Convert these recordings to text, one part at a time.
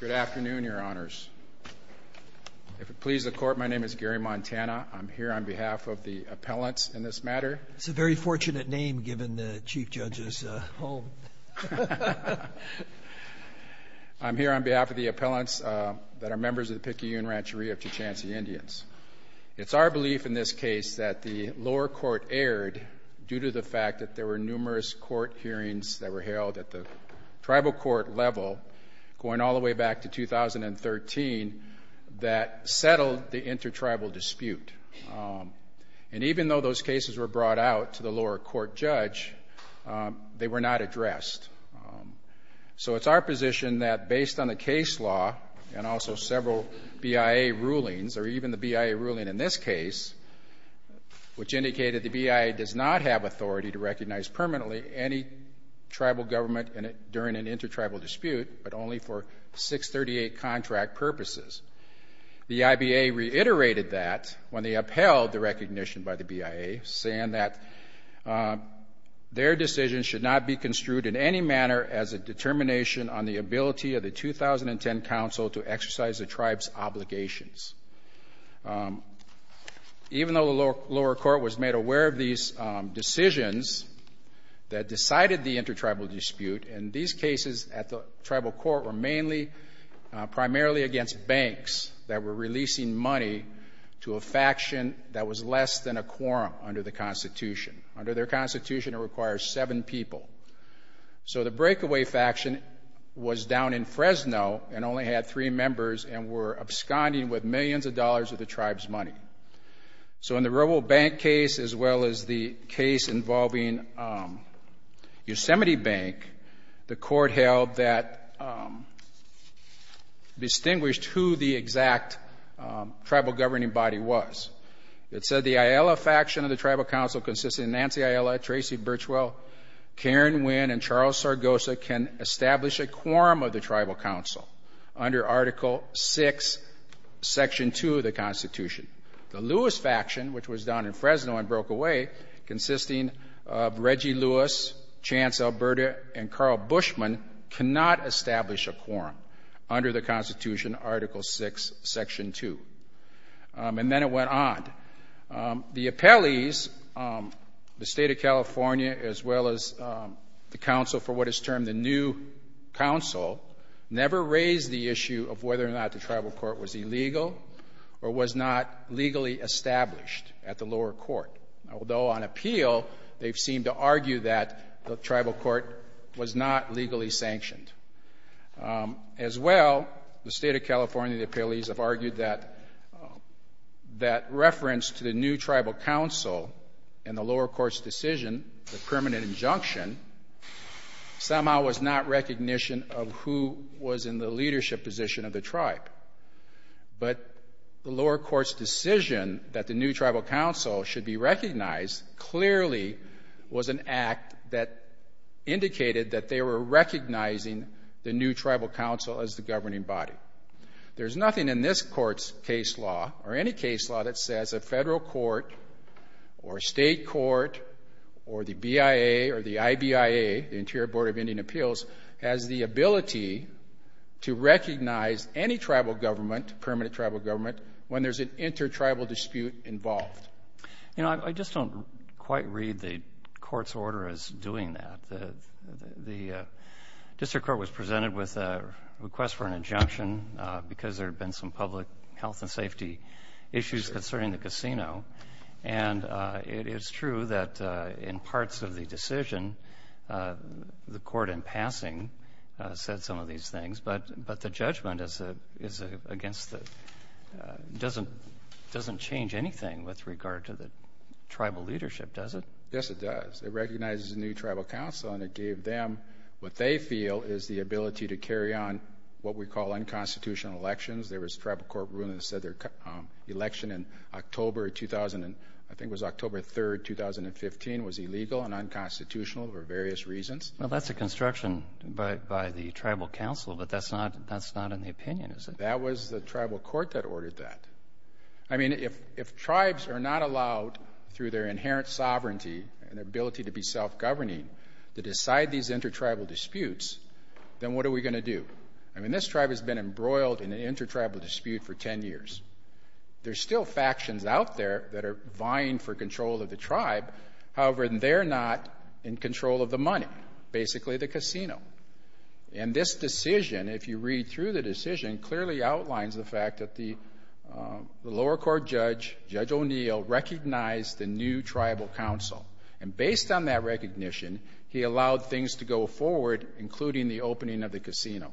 Good afternoon, Your Honors. If it pleases the Court, my name is Gary Montana. I'm here on behalf of the appellants in this matter. That's a very fortunate name given the Chief Judge's home. I'm here on behalf of the appellants that are members of the Picayune Rancheria of Techansee Indians. It's our belief in this case that the lower court erred due to the fact that there were numerous court hearings that were held at the tribal court level going all the way back to 2013 that settled the intertribal dispute. And even though those cases were brought out to the lower court judge, they were not addressed. So it's our position that based on the case law and also several BIA rulings, or even the BIA ruling in this case, which indicated the BIA does not have authority to recognize permanently any tribal government during an intertribal dispute, but only for 638 contract purposes. The IBA reiterated that when they upheld the recognition by the BIA, saying that their decision should not be construed in any manner as a determination on the ability of the 2010 council to exercise the tribe's obligations. Even though the lower court was made aware of these decisions that decided the intertribal dispute, and these cases at the tribal court were mainly primarily against banks that were releasing money to a faction that was less than a quorum under the Constitution. Under their Constitution, it requires seven people. So the Breakaway Faction was down in Fresno and only had three members and were absconding with millions of dollars of the tribe's money. So in the RoboBank case as well as the case involving Yosemite Bank, the court held that distinguished who the exact tribal governing body was. It said the Ayala Faction of the Tribal Council consisting of Nancy Ayala, Tracy Birchwell, Karen Winn, and Charles Sargosa can establish a quorum of the Tribal Council under Article VI, Section 2 of the Constitution. The Lewis Faction, which was down in Fresno and broke away, consisting of Reggie Lewis, Chance Alberta, and Carl Bushman cannot establish a quorum under the Constitution, Article VI, Section 2. And then it went on. The appellees, the State of California as well as the council for what is termed the new council, never raised the issue of whether or not the tribal court was illegal or was not legally established at the lower court, although on appeal they've seemed to argue that the tribal court was not legally sanctioned. As well, the State of California and the appellees have argued that reference to the new tribal council and the lower court's decision, the permanent injunction, somehow was not recognition of who was in the leadership position of the tribe. But the lower court's decision that the new tribal council should be recognized clearly was an act that indicated that they were recognizing the new tribal council as the governing body. There's nothing in this court's case law or any case law that says a federal court or a state court or the BIA or the IBIA, the Interior Board of Indian Appeals, has the ability to recognize any tribal government, permanent tribal government, when there's an intertribal dispute involved. You know, I just don't quite read the court's order as doing that. The district court was presented with a request for an injunction because there had been some public health and safety issues concerning the casino, and it is true that in parts of the decision the court in passing said some of these things, but the judgment doesn't change anything with regard to the tribal leadership, does it? Yes, it does. It recognizes the new tribal council, and it gave them what they feel is the ability to carry on what we call unconstitutional elections. There was a tribal court ruling that said their election in October, I think it was October 3, 2015, was illegal and unconstitutional for various reasons. Well, that's a construction by the tribal council, but that's not in the opinion, is it? That was the tribal court that ordered that. I mean, if tribes are not allowed through their inherent sovereignty and their ability to be self-governing to decide these intertribal disputes, then what are we going to do? I mean, this tribe has been embroiled in an intertribal dispute for 10 years. There's still factions out there that are vying for control of the tribe. However, they're not in control of the money, basically the casino. And this decision, if you read through the decision, clearly outlines the fact that the lower court judge, Judge O'Neill, recognized the new tribal council, and based on that recognition, he allowed things to go forward, including the opening of the casino.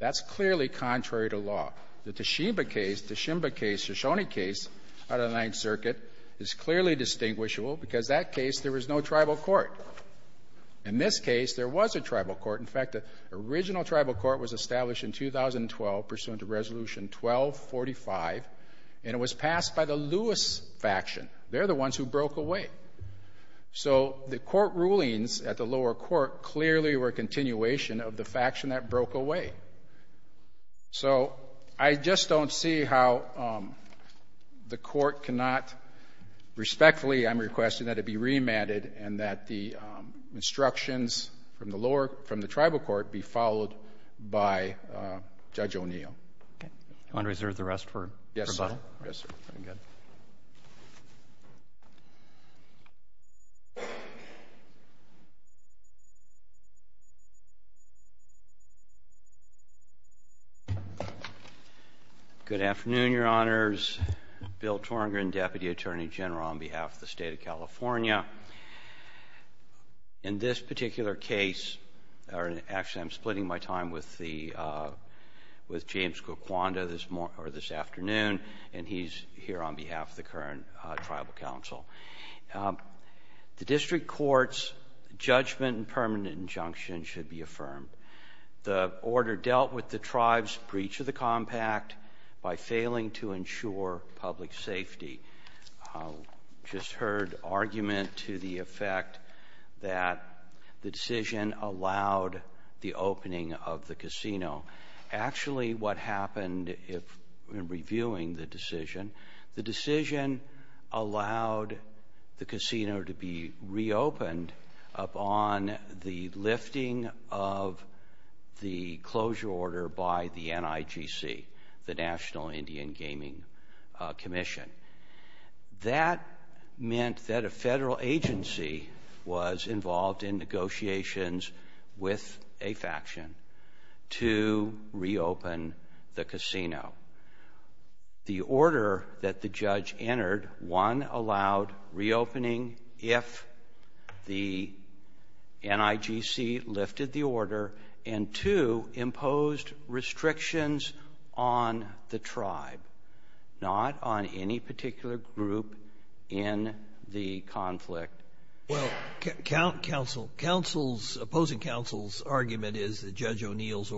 That's clearly contrary to law. The Teshiba case, Teshimba case, Shoshone case, out of the Ninth Circuit, is clearly distinguishable because that case, there was no tribal court. In this case, there was a tribal court. In fact, the original tribal court was established in 2012, pursuant to Resolution 1245, and it was passed by the Lewis faction. They're the ones who broke away. So the court rulings at the lower court clearly were a continuation of the faction that broke away. So I just don't see how the court cannot respectfully, I'm requesting that it be remanded and that the instructions from the tribal court be followed by Judge O'Neill. Do you want to reserve the rest for rebuttal? Yes, sir. Very good. Good afternoon, Your Honors. Bill Torengren, Deputy Attorney General on behalf of the State of California. In this particular case, or actually, I'm splitting my time with the — with James Coquando this afternoon, and he's here on behalf of the current tribal council. The district court's judgment and permanent injunction should be affirmed. The order dealt with the tribe's breach of the compact by failing to ensure public safety. I just heard argument to the effect that the decision allowed the opening of the casino. Actually, what happened in reviewing the decision, the decision allowed the casino to be reopened upon the lifting of the closure order by the NIGC, the National Indian Gaming Commission. That meant that a Federal agency was involved in negotiations with a faction to reopen the casino. The order that the judge entered, one, allowed reopening if the NIGC lifted the order, and, two, imposed restrictions on the tribe, not on any particular group in the conflict. Well, counsel, counsel's — opposing counsel's argument is that Judge O'Neill's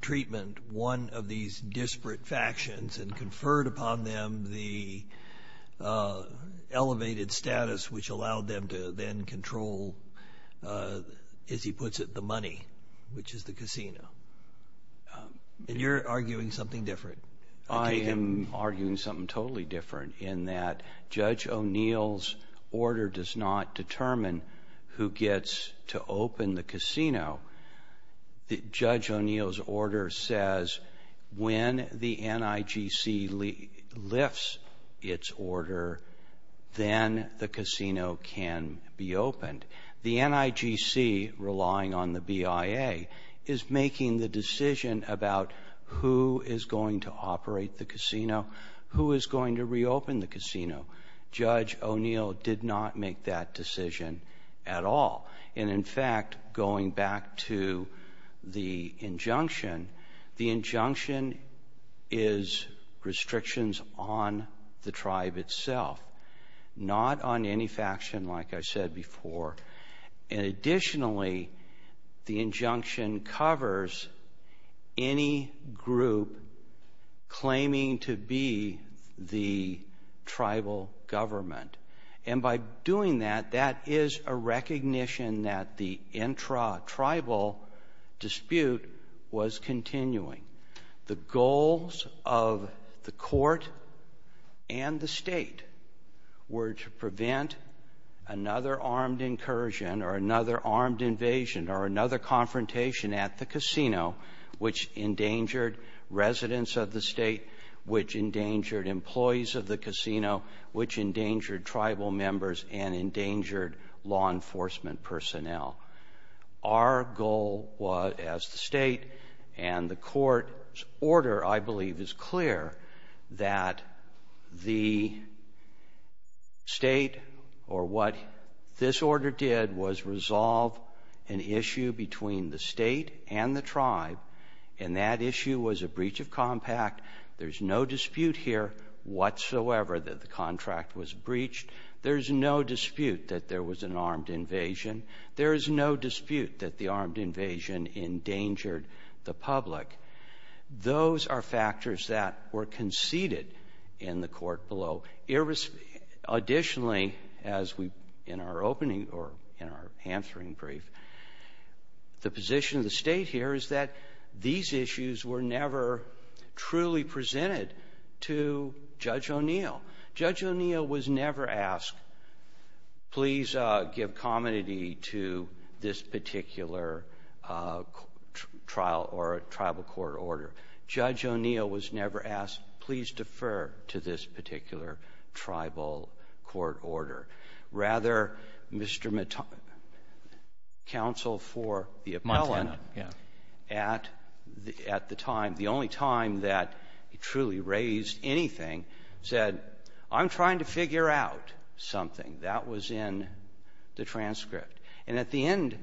treatment, one of these disparate factions, and conferred upon them the elevated status which allowed them to then control, as he puts it, the money, which is the casino. And you're arguing something different. I am arguing something totally different in that Judge O'Neill's order does not determine who gets to open the casino. Judge O'Neill's order says when the NIGC lifts its order, then the casino can be opened. The NIGC, relying on the BIA, is making the decision about who is going to operate the casino, Judge O'Neill did not make that decision at all. And, in fact, going back to the injunction, the injunction is restrictions on the tribe itself, not on any faction, like I said before. And, additionally, the injunction covers any group claiming to be the tribal government. And by doing that, that is a recognition that the intra-tribal dispute was continuing. The goals of the Court and the State were to prevent another armed incursion or another armed invasion or another confrontation at the casino, which endangered residents of the State, which endangered employees of the casino, which endangered tribal members and endangered law enforcement personnel. Our goal was, as the State and the Court's order, I believe, is clear, that the State or what this order did was resolve an issue between the State and the tribe, and that issue was a breach of compact. There's no dispute here whatsoever that the contract was breached. There's no dispute that there was an armed invasion. There is no dispute that the armed invasion endangered the public. Those are factors that were conceded in the Court below. Additionally, as we in our opening or in our answering brief, the position of the State here is that these issues were never truly presented to Judge O'Neill. Judge O'Neill was never asked, please give commonity to this particular trial or a tribal court order. Judge O'Neill was never asked, please defer to this particular tribal court order. Rather, Mr. Matano, counsel for the appellant at the time, the only time that he truly raised anything, said, I'm trying to figure out something. That was in the transcript. And at the end,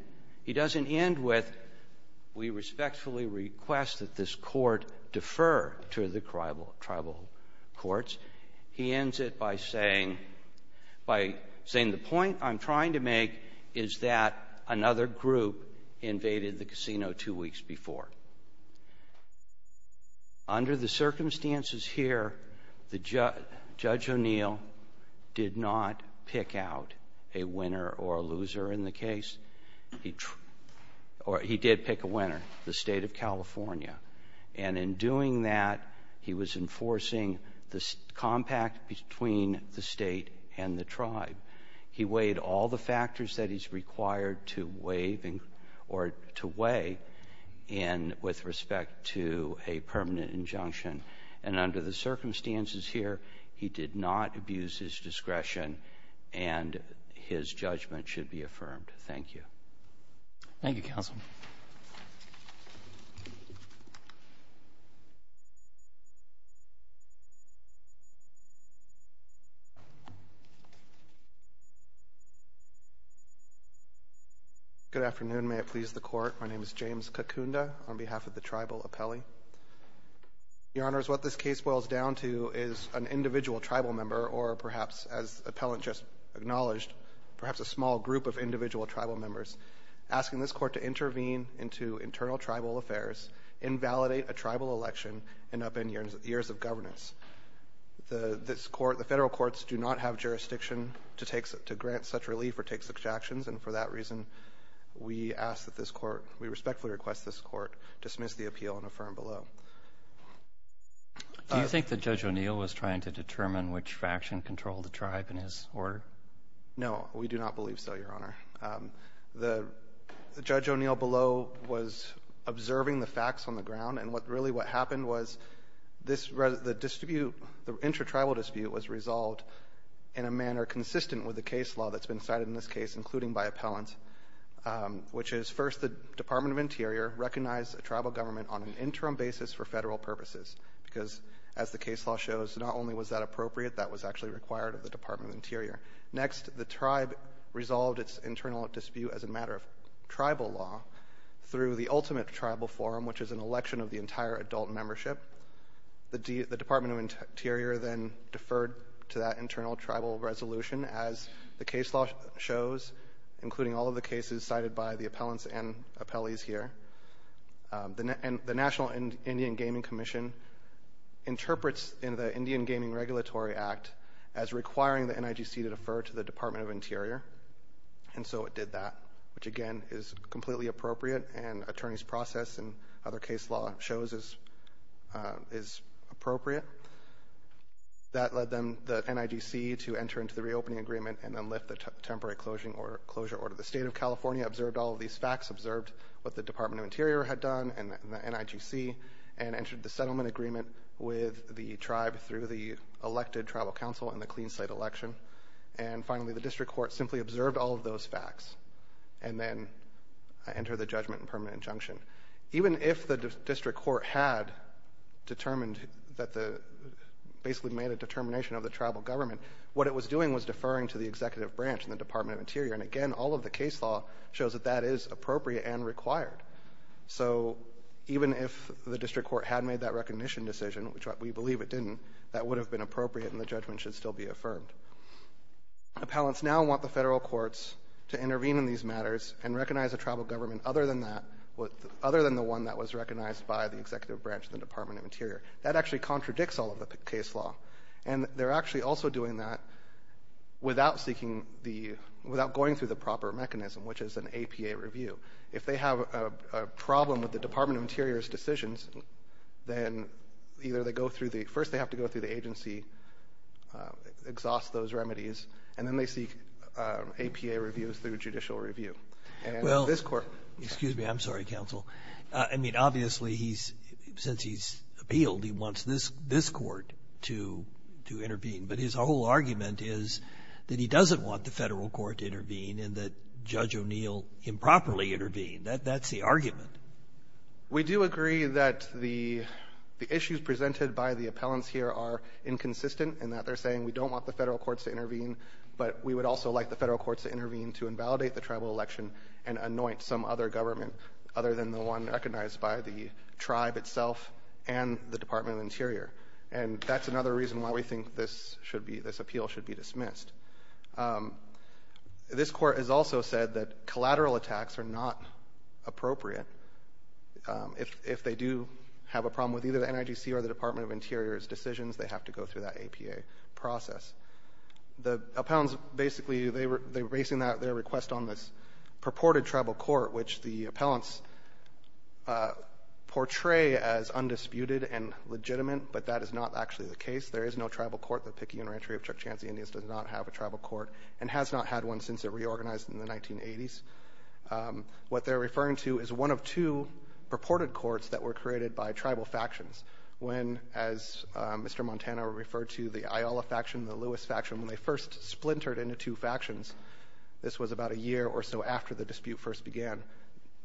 he doesn't end with, we respectfully request that this court defer to the tribal courts. He ends it by saying, by saying, the point I'm trying to make is that another group invaded the casino two weeks before. Under the circumstances here, Judge O'Neill did not pick out a winner or a loser in the case. He did pick a winner, the State of California. And in doing that, he was enforcing the compact between the State and the tribe. He weighed all the factors that he's required to weigh or to weigh in with respect to a permanent injunction. And under the circumstances here, he did not abuse his discretion, and his judgment should be affirmed. Thank you. Thank you, counsel. Good afternoon. May it please the Court. My name is James Kakunda on behalf of the tribal appellee. Your Honors, what this case boils down to is an individual tribal member or perhaps, as the appellant just acknowledged, perhaps a small group of individual tribal members asking this Court to intervene into internal tribal affairs, invalidate a tribal election, and upend years of governance. The federal courts do not have jurisdiction to grant such relief or take such actions, and for that reason, we ask that this Court, we respectfully request this Court dismiss the appeal and affirm below. Do you think that Judge O'Neill was trying to determine which faction controlled the tribe in his order? No, we do not believe so, Your Honor. The Judge O'Neill below was observing the facts on the ground, and what really what happened was this, the dispute, the intertribal dispute was resolved in a manner consistent with the case law that's been cited in this case, including by appellants, which is first the Department of Interior recognized a tribal government on an interim basis for federal purposes, because as the case law shows, not only was that appropriate, that was actually required of the Department of Interior. Next, the tribe resolved its internal dispute as a matter of tribal law through the ultimate tribal forum, which is an election of the entire adult membership. The Department of Interior then deferred to that internal tribal resolution, as the case law shows, including all of the cases cited by the appellants and appellees here. The National Indian Gaming Commission interprets in the Indian Gaming Regulatory Act as requiring the NIGC to defer to the Department of Interior, and so it did that, which, again, is completely appropriate, and attorney's process and other case law shows is appropriate. That led the NIGC to enter into the reopening agreement and then lift the temporary closure order. The State of California observed all of these facts, observed what the Department of Interior had done and the NIGC, and entered the settlement agreement with the tribe through the elected tribal council and the Clean State election. And finally, the district court simply observed all of those facts and then entered the judgment and permanent injunction. Even if the district court had determined that the – basically made a determination of the tribal government, what it was doing was deferring to the executive branch in the Department of Interior. And again, all of the case law shows that that is appropriate and required. So even if the district court had made that recognition decision, which we believe it didn't, that would have been appropriate and the judgment should still be affirmed. Appellants now want the federal courts to intervene in these matters and recognize a tribal government other than the one that was recognized by the executive branch in the Department of Interior. That actually contradicts all of the case law, and they're actually also doing that without seeking the – without going through the proper mechanism, which is an APA review. If they have a problem with the Department of Interior's decisions, then either they go through the – first they have to go through the agency, exhaust those remedies, and then they seek APA reviews through judicial review. And this Court – Well, excuse me. I'm sorry, counsel. I mean, obviously, he's – since he's appealed, he wants this Court to intervene. in that Judge O'Neill improperly intervened. That's the argument. We do agree that the issues presented by the appellants here are inconsistent in that they're saying we don't want the federal courts to intervene, but we would also like the federal courts to intervene to invalidate the tribal election and anoint some other government other than the one recognized by the tribe itself and the Department of Interior. And that's another reason why we think this should be – this appeal should be dismissed. This Court has also said that collateral attacks are not appropriate. If they do have a problem with either the NIGC or the Department of Interior's decisions, they have to go through that APA process. The appellants basically – they were basing their request on this purported tribal court, which the appellants portray as undisputed and legitimate, but that is not actually the case. There is no tribal court. The Peking Interantry of Chukchansi Indians does not have a tribal court and has not had one since it reorganized in the 1980s. What they're referring to is one of two purported courts that were created by tribal factions. When, as Mr. Montana referred to, the Ayala faction, the Lewis faction, when they first splintered into two factions, this was about a year or so after the dispute first began,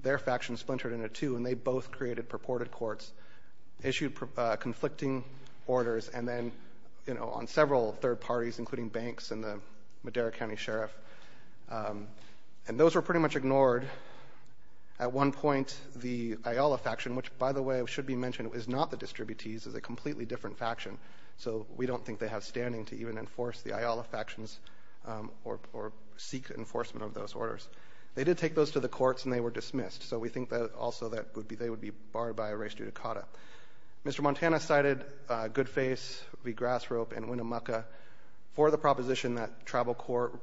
their faction splintered into two, and they both created purported courts, issued conflicting orders, and then, you know, on several third parties, including banks and the Madera County Sheriff. And those were pretty much ignored. At one point, the Ayala faction, which, by the way, should be mentioned, is not the distributees. It's a completely different faction. So we don't think they have standing to even enforce the Ayala factions or seek enforcement of those orders. They did take those to the courts, and they were dismissed. So we think that also that would be they would be barred by arrest due to CADA. Mr. Montana cited Goodface v. Grass Rope and Winnemucca for the proposition that tribal courts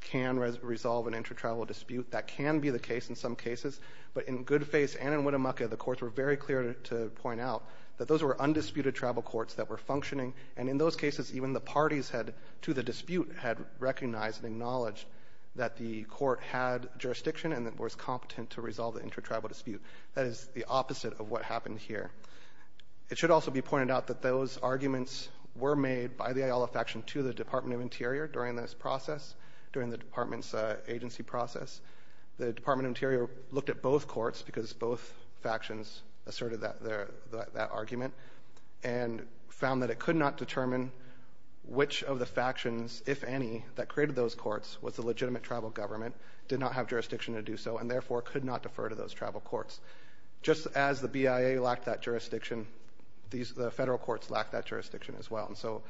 can resolve an intertribal dispute. That can be the case in some cases. But in Goodface and in Winnemucca, the courts were very clear to point out that those were undisputed tribal courts that were functioning, and in those cases, even the parties had to the dispute had recognized and acknowledged that the court had jurisdiction and that it was competent to resolve the intertribal dispute. That is the opposite of what happened here. It should also be pointed out that those arguments were made by the Ayala faction to the Department of Interior during this process, during the department's agency process. The Department of Interior looked at both courts because both factions asserted that argument and found that it could not determine which of the factions, if any, that created those courts was the legitimate tribal government, did not have jurisdiction to do so, and therefore could not defer to those tribal courts. Just as the BIA lacked that jurisdiction, the federal courts lacked that jurisdiction as well. And so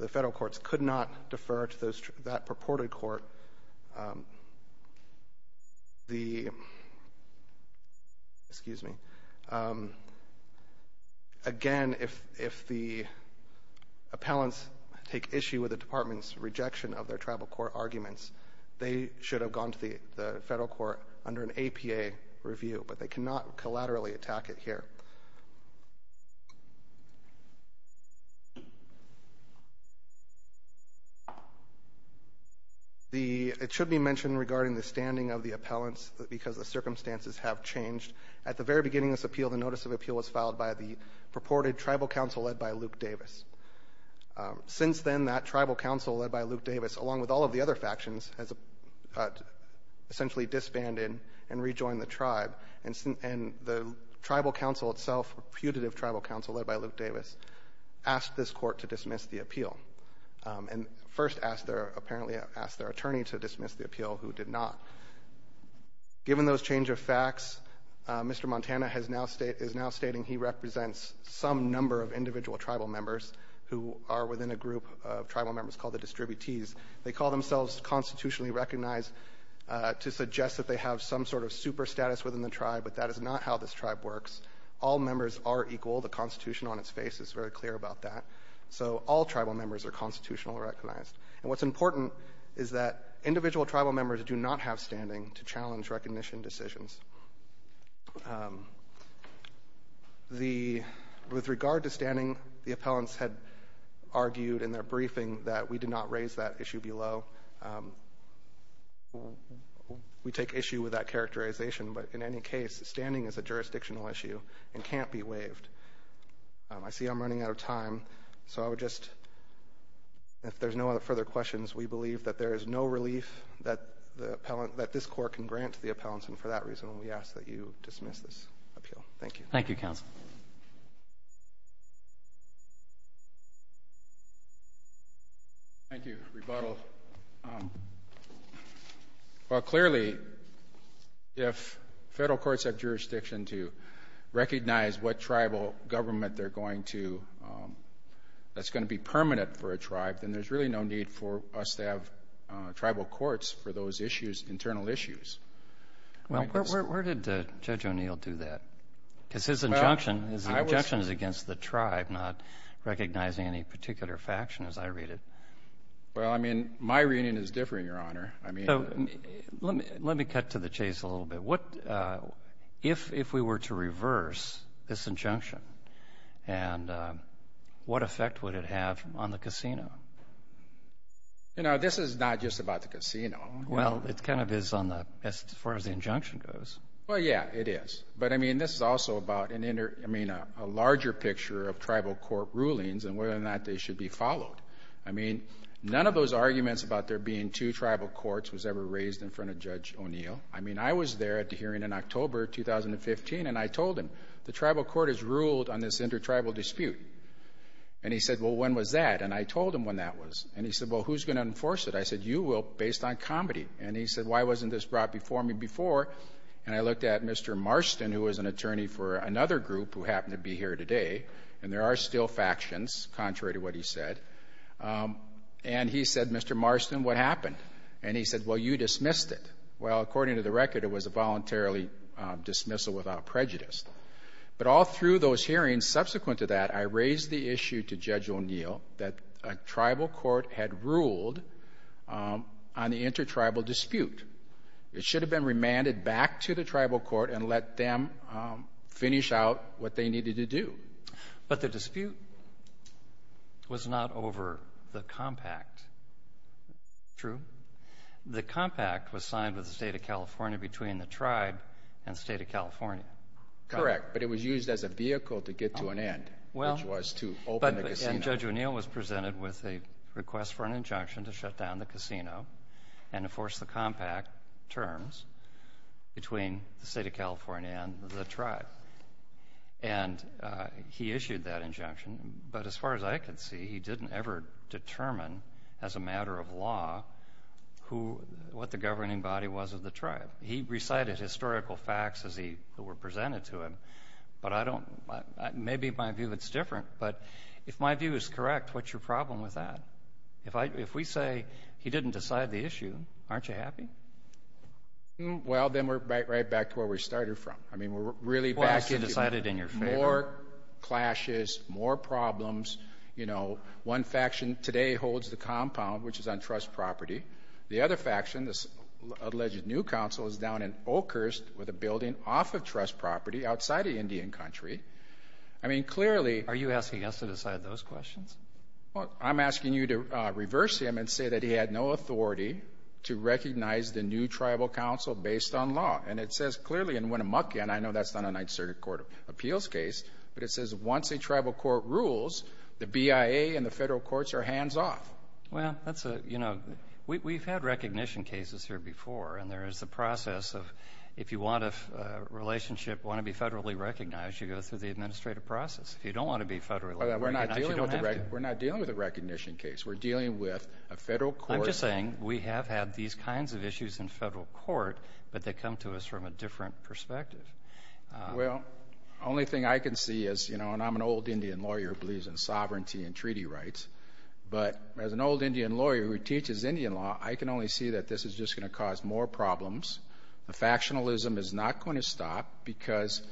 the federal courts could not defer to that purported court. Again, if the appellants take issue with the department's rejection of their tribal court arguments, they should have gone to the federal court under an APA review, but they cannot collaterally attack it here. It should be mentioned regarding the standing of the appellants because the circumstances have changed. At the very beginning of this appeal, the notice of appeal was filed by the purported tribal council led by Luke Davis. Since then, that tribal council led by Luke Davis, along with all of the other factions, has essentially disbanded and rejoined the tribe. And the tribal council itself, putative tribal council led by Luke Davis, asked this court to dismiss the appeal and first asked their attorney to dismiss the appeal, who did not. Given those change of facts, Mr. Montana is now stating he represents some number of individual tribal members who are within a group of tribal members called the distributees. They call themselves constitutionally recognized to suggest that they have some sort of super status within the tribe, but that is not how this tribe works. All members are equal. The Constitution on its face is very clear about that. So all tribal members are constitutionally recognized. And what's important is that individual tribal members do not have standing to challenge recognition decisions. With regard to standing, the appellants had argued in their briefing that we did not raise that issue below. We take issue with that characterization, but in any case, standing is a jurisdictional issue and can't be waived. I see I'm running out of time, so I would just, if there's no further questions, we believe that there is no relief that this court can grant to the appellants, and for that reason we ask that you dismiss this appeal. Thank you. Thank you, counsel. Thank you, rebuttal. Well, clearly, if Federal courts have jurisdiction to recognize what tribal government they're going to, that's going to be permanent for a tribe, then there's really no need for us to have tribal courts for those issues, internal issues. Well, where did Judge O'Neill do that? Because his injunction is against the tribe, not recognizing any particular faction, as I read it. Well, I mean, my reading is different, Your Honor. Let me cut to the chase a little bit. If we were to reverse this injunction, what effect would it have on the casino? You know, this is not just about the casino. Well, it kind of is as far as the injunction goes. Well, yeah, it is. But, I mean, this is also about a larger picture of tribal court rulings and whether or not they should be followed. I mean, none of those arguments about there being two tribal courts was ever raised in front of Judge O'Neill. I mean, I was there at the hearing in October 2015, and I told him, the tribal court has ruled on this inter-tribal dispute. And he said, well, when was that? And I told him when that was. And he said, well, who's going to enforce it? I said, you will, based on comedy. And he said, why wasn't this brought before me before? And I looked at Mr. Marston, who was an attorney for another group who happened to be here today, and there are still factions, contrary to what he said, and he said, Mr. Marston, what happened? And he said, well, you dismissed it. Well, according to the record, it was a voluntarily dismissal without prejudice. But all through those hearings, subsequent to that, I raised the issue to Judge O'Neill that a tribal court had ruled on the inter-tribal dispute. It should have been remanded back to the tribal court and let them finish out what they needed to do. But the dispute was not over the compact. True. The compact was signed with the State of California between the tribe and the State of California. Correct, but it was used as a vehicle to get to an end, which was to open the casino. And Judge O'Neill was presented with a request for an injunction to shut down the casino and enforce the compact terms between the State of California and the tribe. And he issued that injunction. But as far as I can see, he didn't ever determine as a matter of law what the governing body was of the tribe. He recited historical facts as they were presented to him. But maybe my view is different. But if my view is correct, what's your problem with that? If we say he didn't decide the issue, aren't you happy? Well, then we're right back to where we started from. I mean, we're really back to more clashes, more problems. You know, one faction today holds the compound, which is on trust property. The other faction, this alleged new council, is down in Oakhurst with a building off of trust property outside of Indian Country. I mean, clearly. Are you asking us to decide those questions? Well, I'm asking you to reverse him and say that he had no authority to recognize the new tribal council based on law. And it says clearly in Winnemucca, and I know that's not an uncertain court of appeals case, but it says once a tribal court rules, the BIA and the federal courts are hands off. Well, that's a, you know, we've had recognition cases here before, and there is a process of if you want a relationship, want to be federally recognized, you go through the administrative process. If you don't want to be federally recognized, you don't have to. We're not dealing with a recognition case. We're dealing with a federal court. I'm just saying we have had these kinds of issues in federal court, but they come to us from a different perspective. Well, the only thing I can see is, you know, and I'm an old Indian lawyer who believes in sovereignty and treaty rights, but as an old Indian lawyer who teaches Indian law, I can only see that this is just going to cause more problems. The factionalism is not going to stop because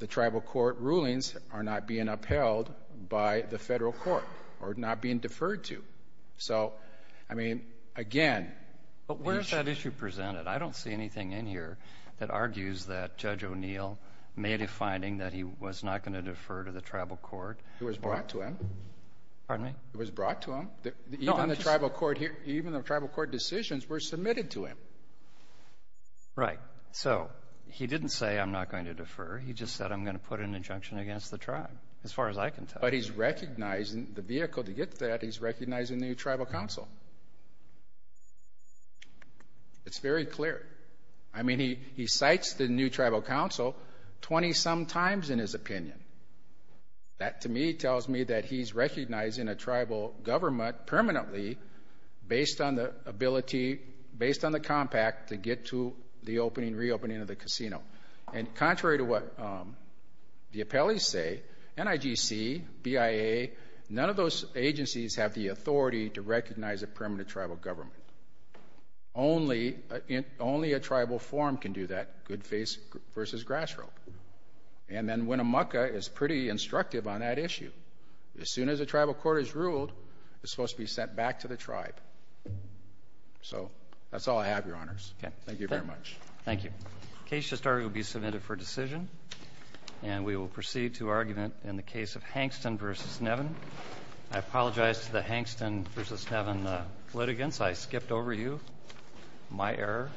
the tribal court rulings are not being upheld by the federal court or not being deferred to. So, I mean, again. But where is that issue presented? I don't see anything in here that argues that Judge O'Neill made a finding that he was not going to defer to the tribal court. It was brought to him. Pardon me? It was brought to him. Even the tribal court decisions were submitted to him. Right. So he didn't say I'm not going to defer. He just said I'm going to put an injunction against the tribe, as far as I can tell. But he's recognizing the vehicle to get to that. He's recognizing the new tribal council. It's very clear. I mean, he cites the new tribal council 20-some times in his opinion. That, to me, tells me that he's recognizing a tribal government permanently based on the ability, based on the compact to get to the opening, reopening of the casino. And contrary to what the appellees say, NIGC, BIA, none of those agencies have the authority to recognize a permanent tribal government. Only a tribal forum can do that, good faith versus grass rope. And then Winnemucca is pretty instructive on that issue. As soon as a tribal court is ruled, it's supposed to be sent back to the tribe. So that's all I have, Your Honors. Okay. Thank you very much. Thank you. Case to start will be submitted for decision, and we will proceed to argument in the case of Hankston v. Nevin. I apologize to the Hankston v. Nevin litigants. I skipped over you. My error.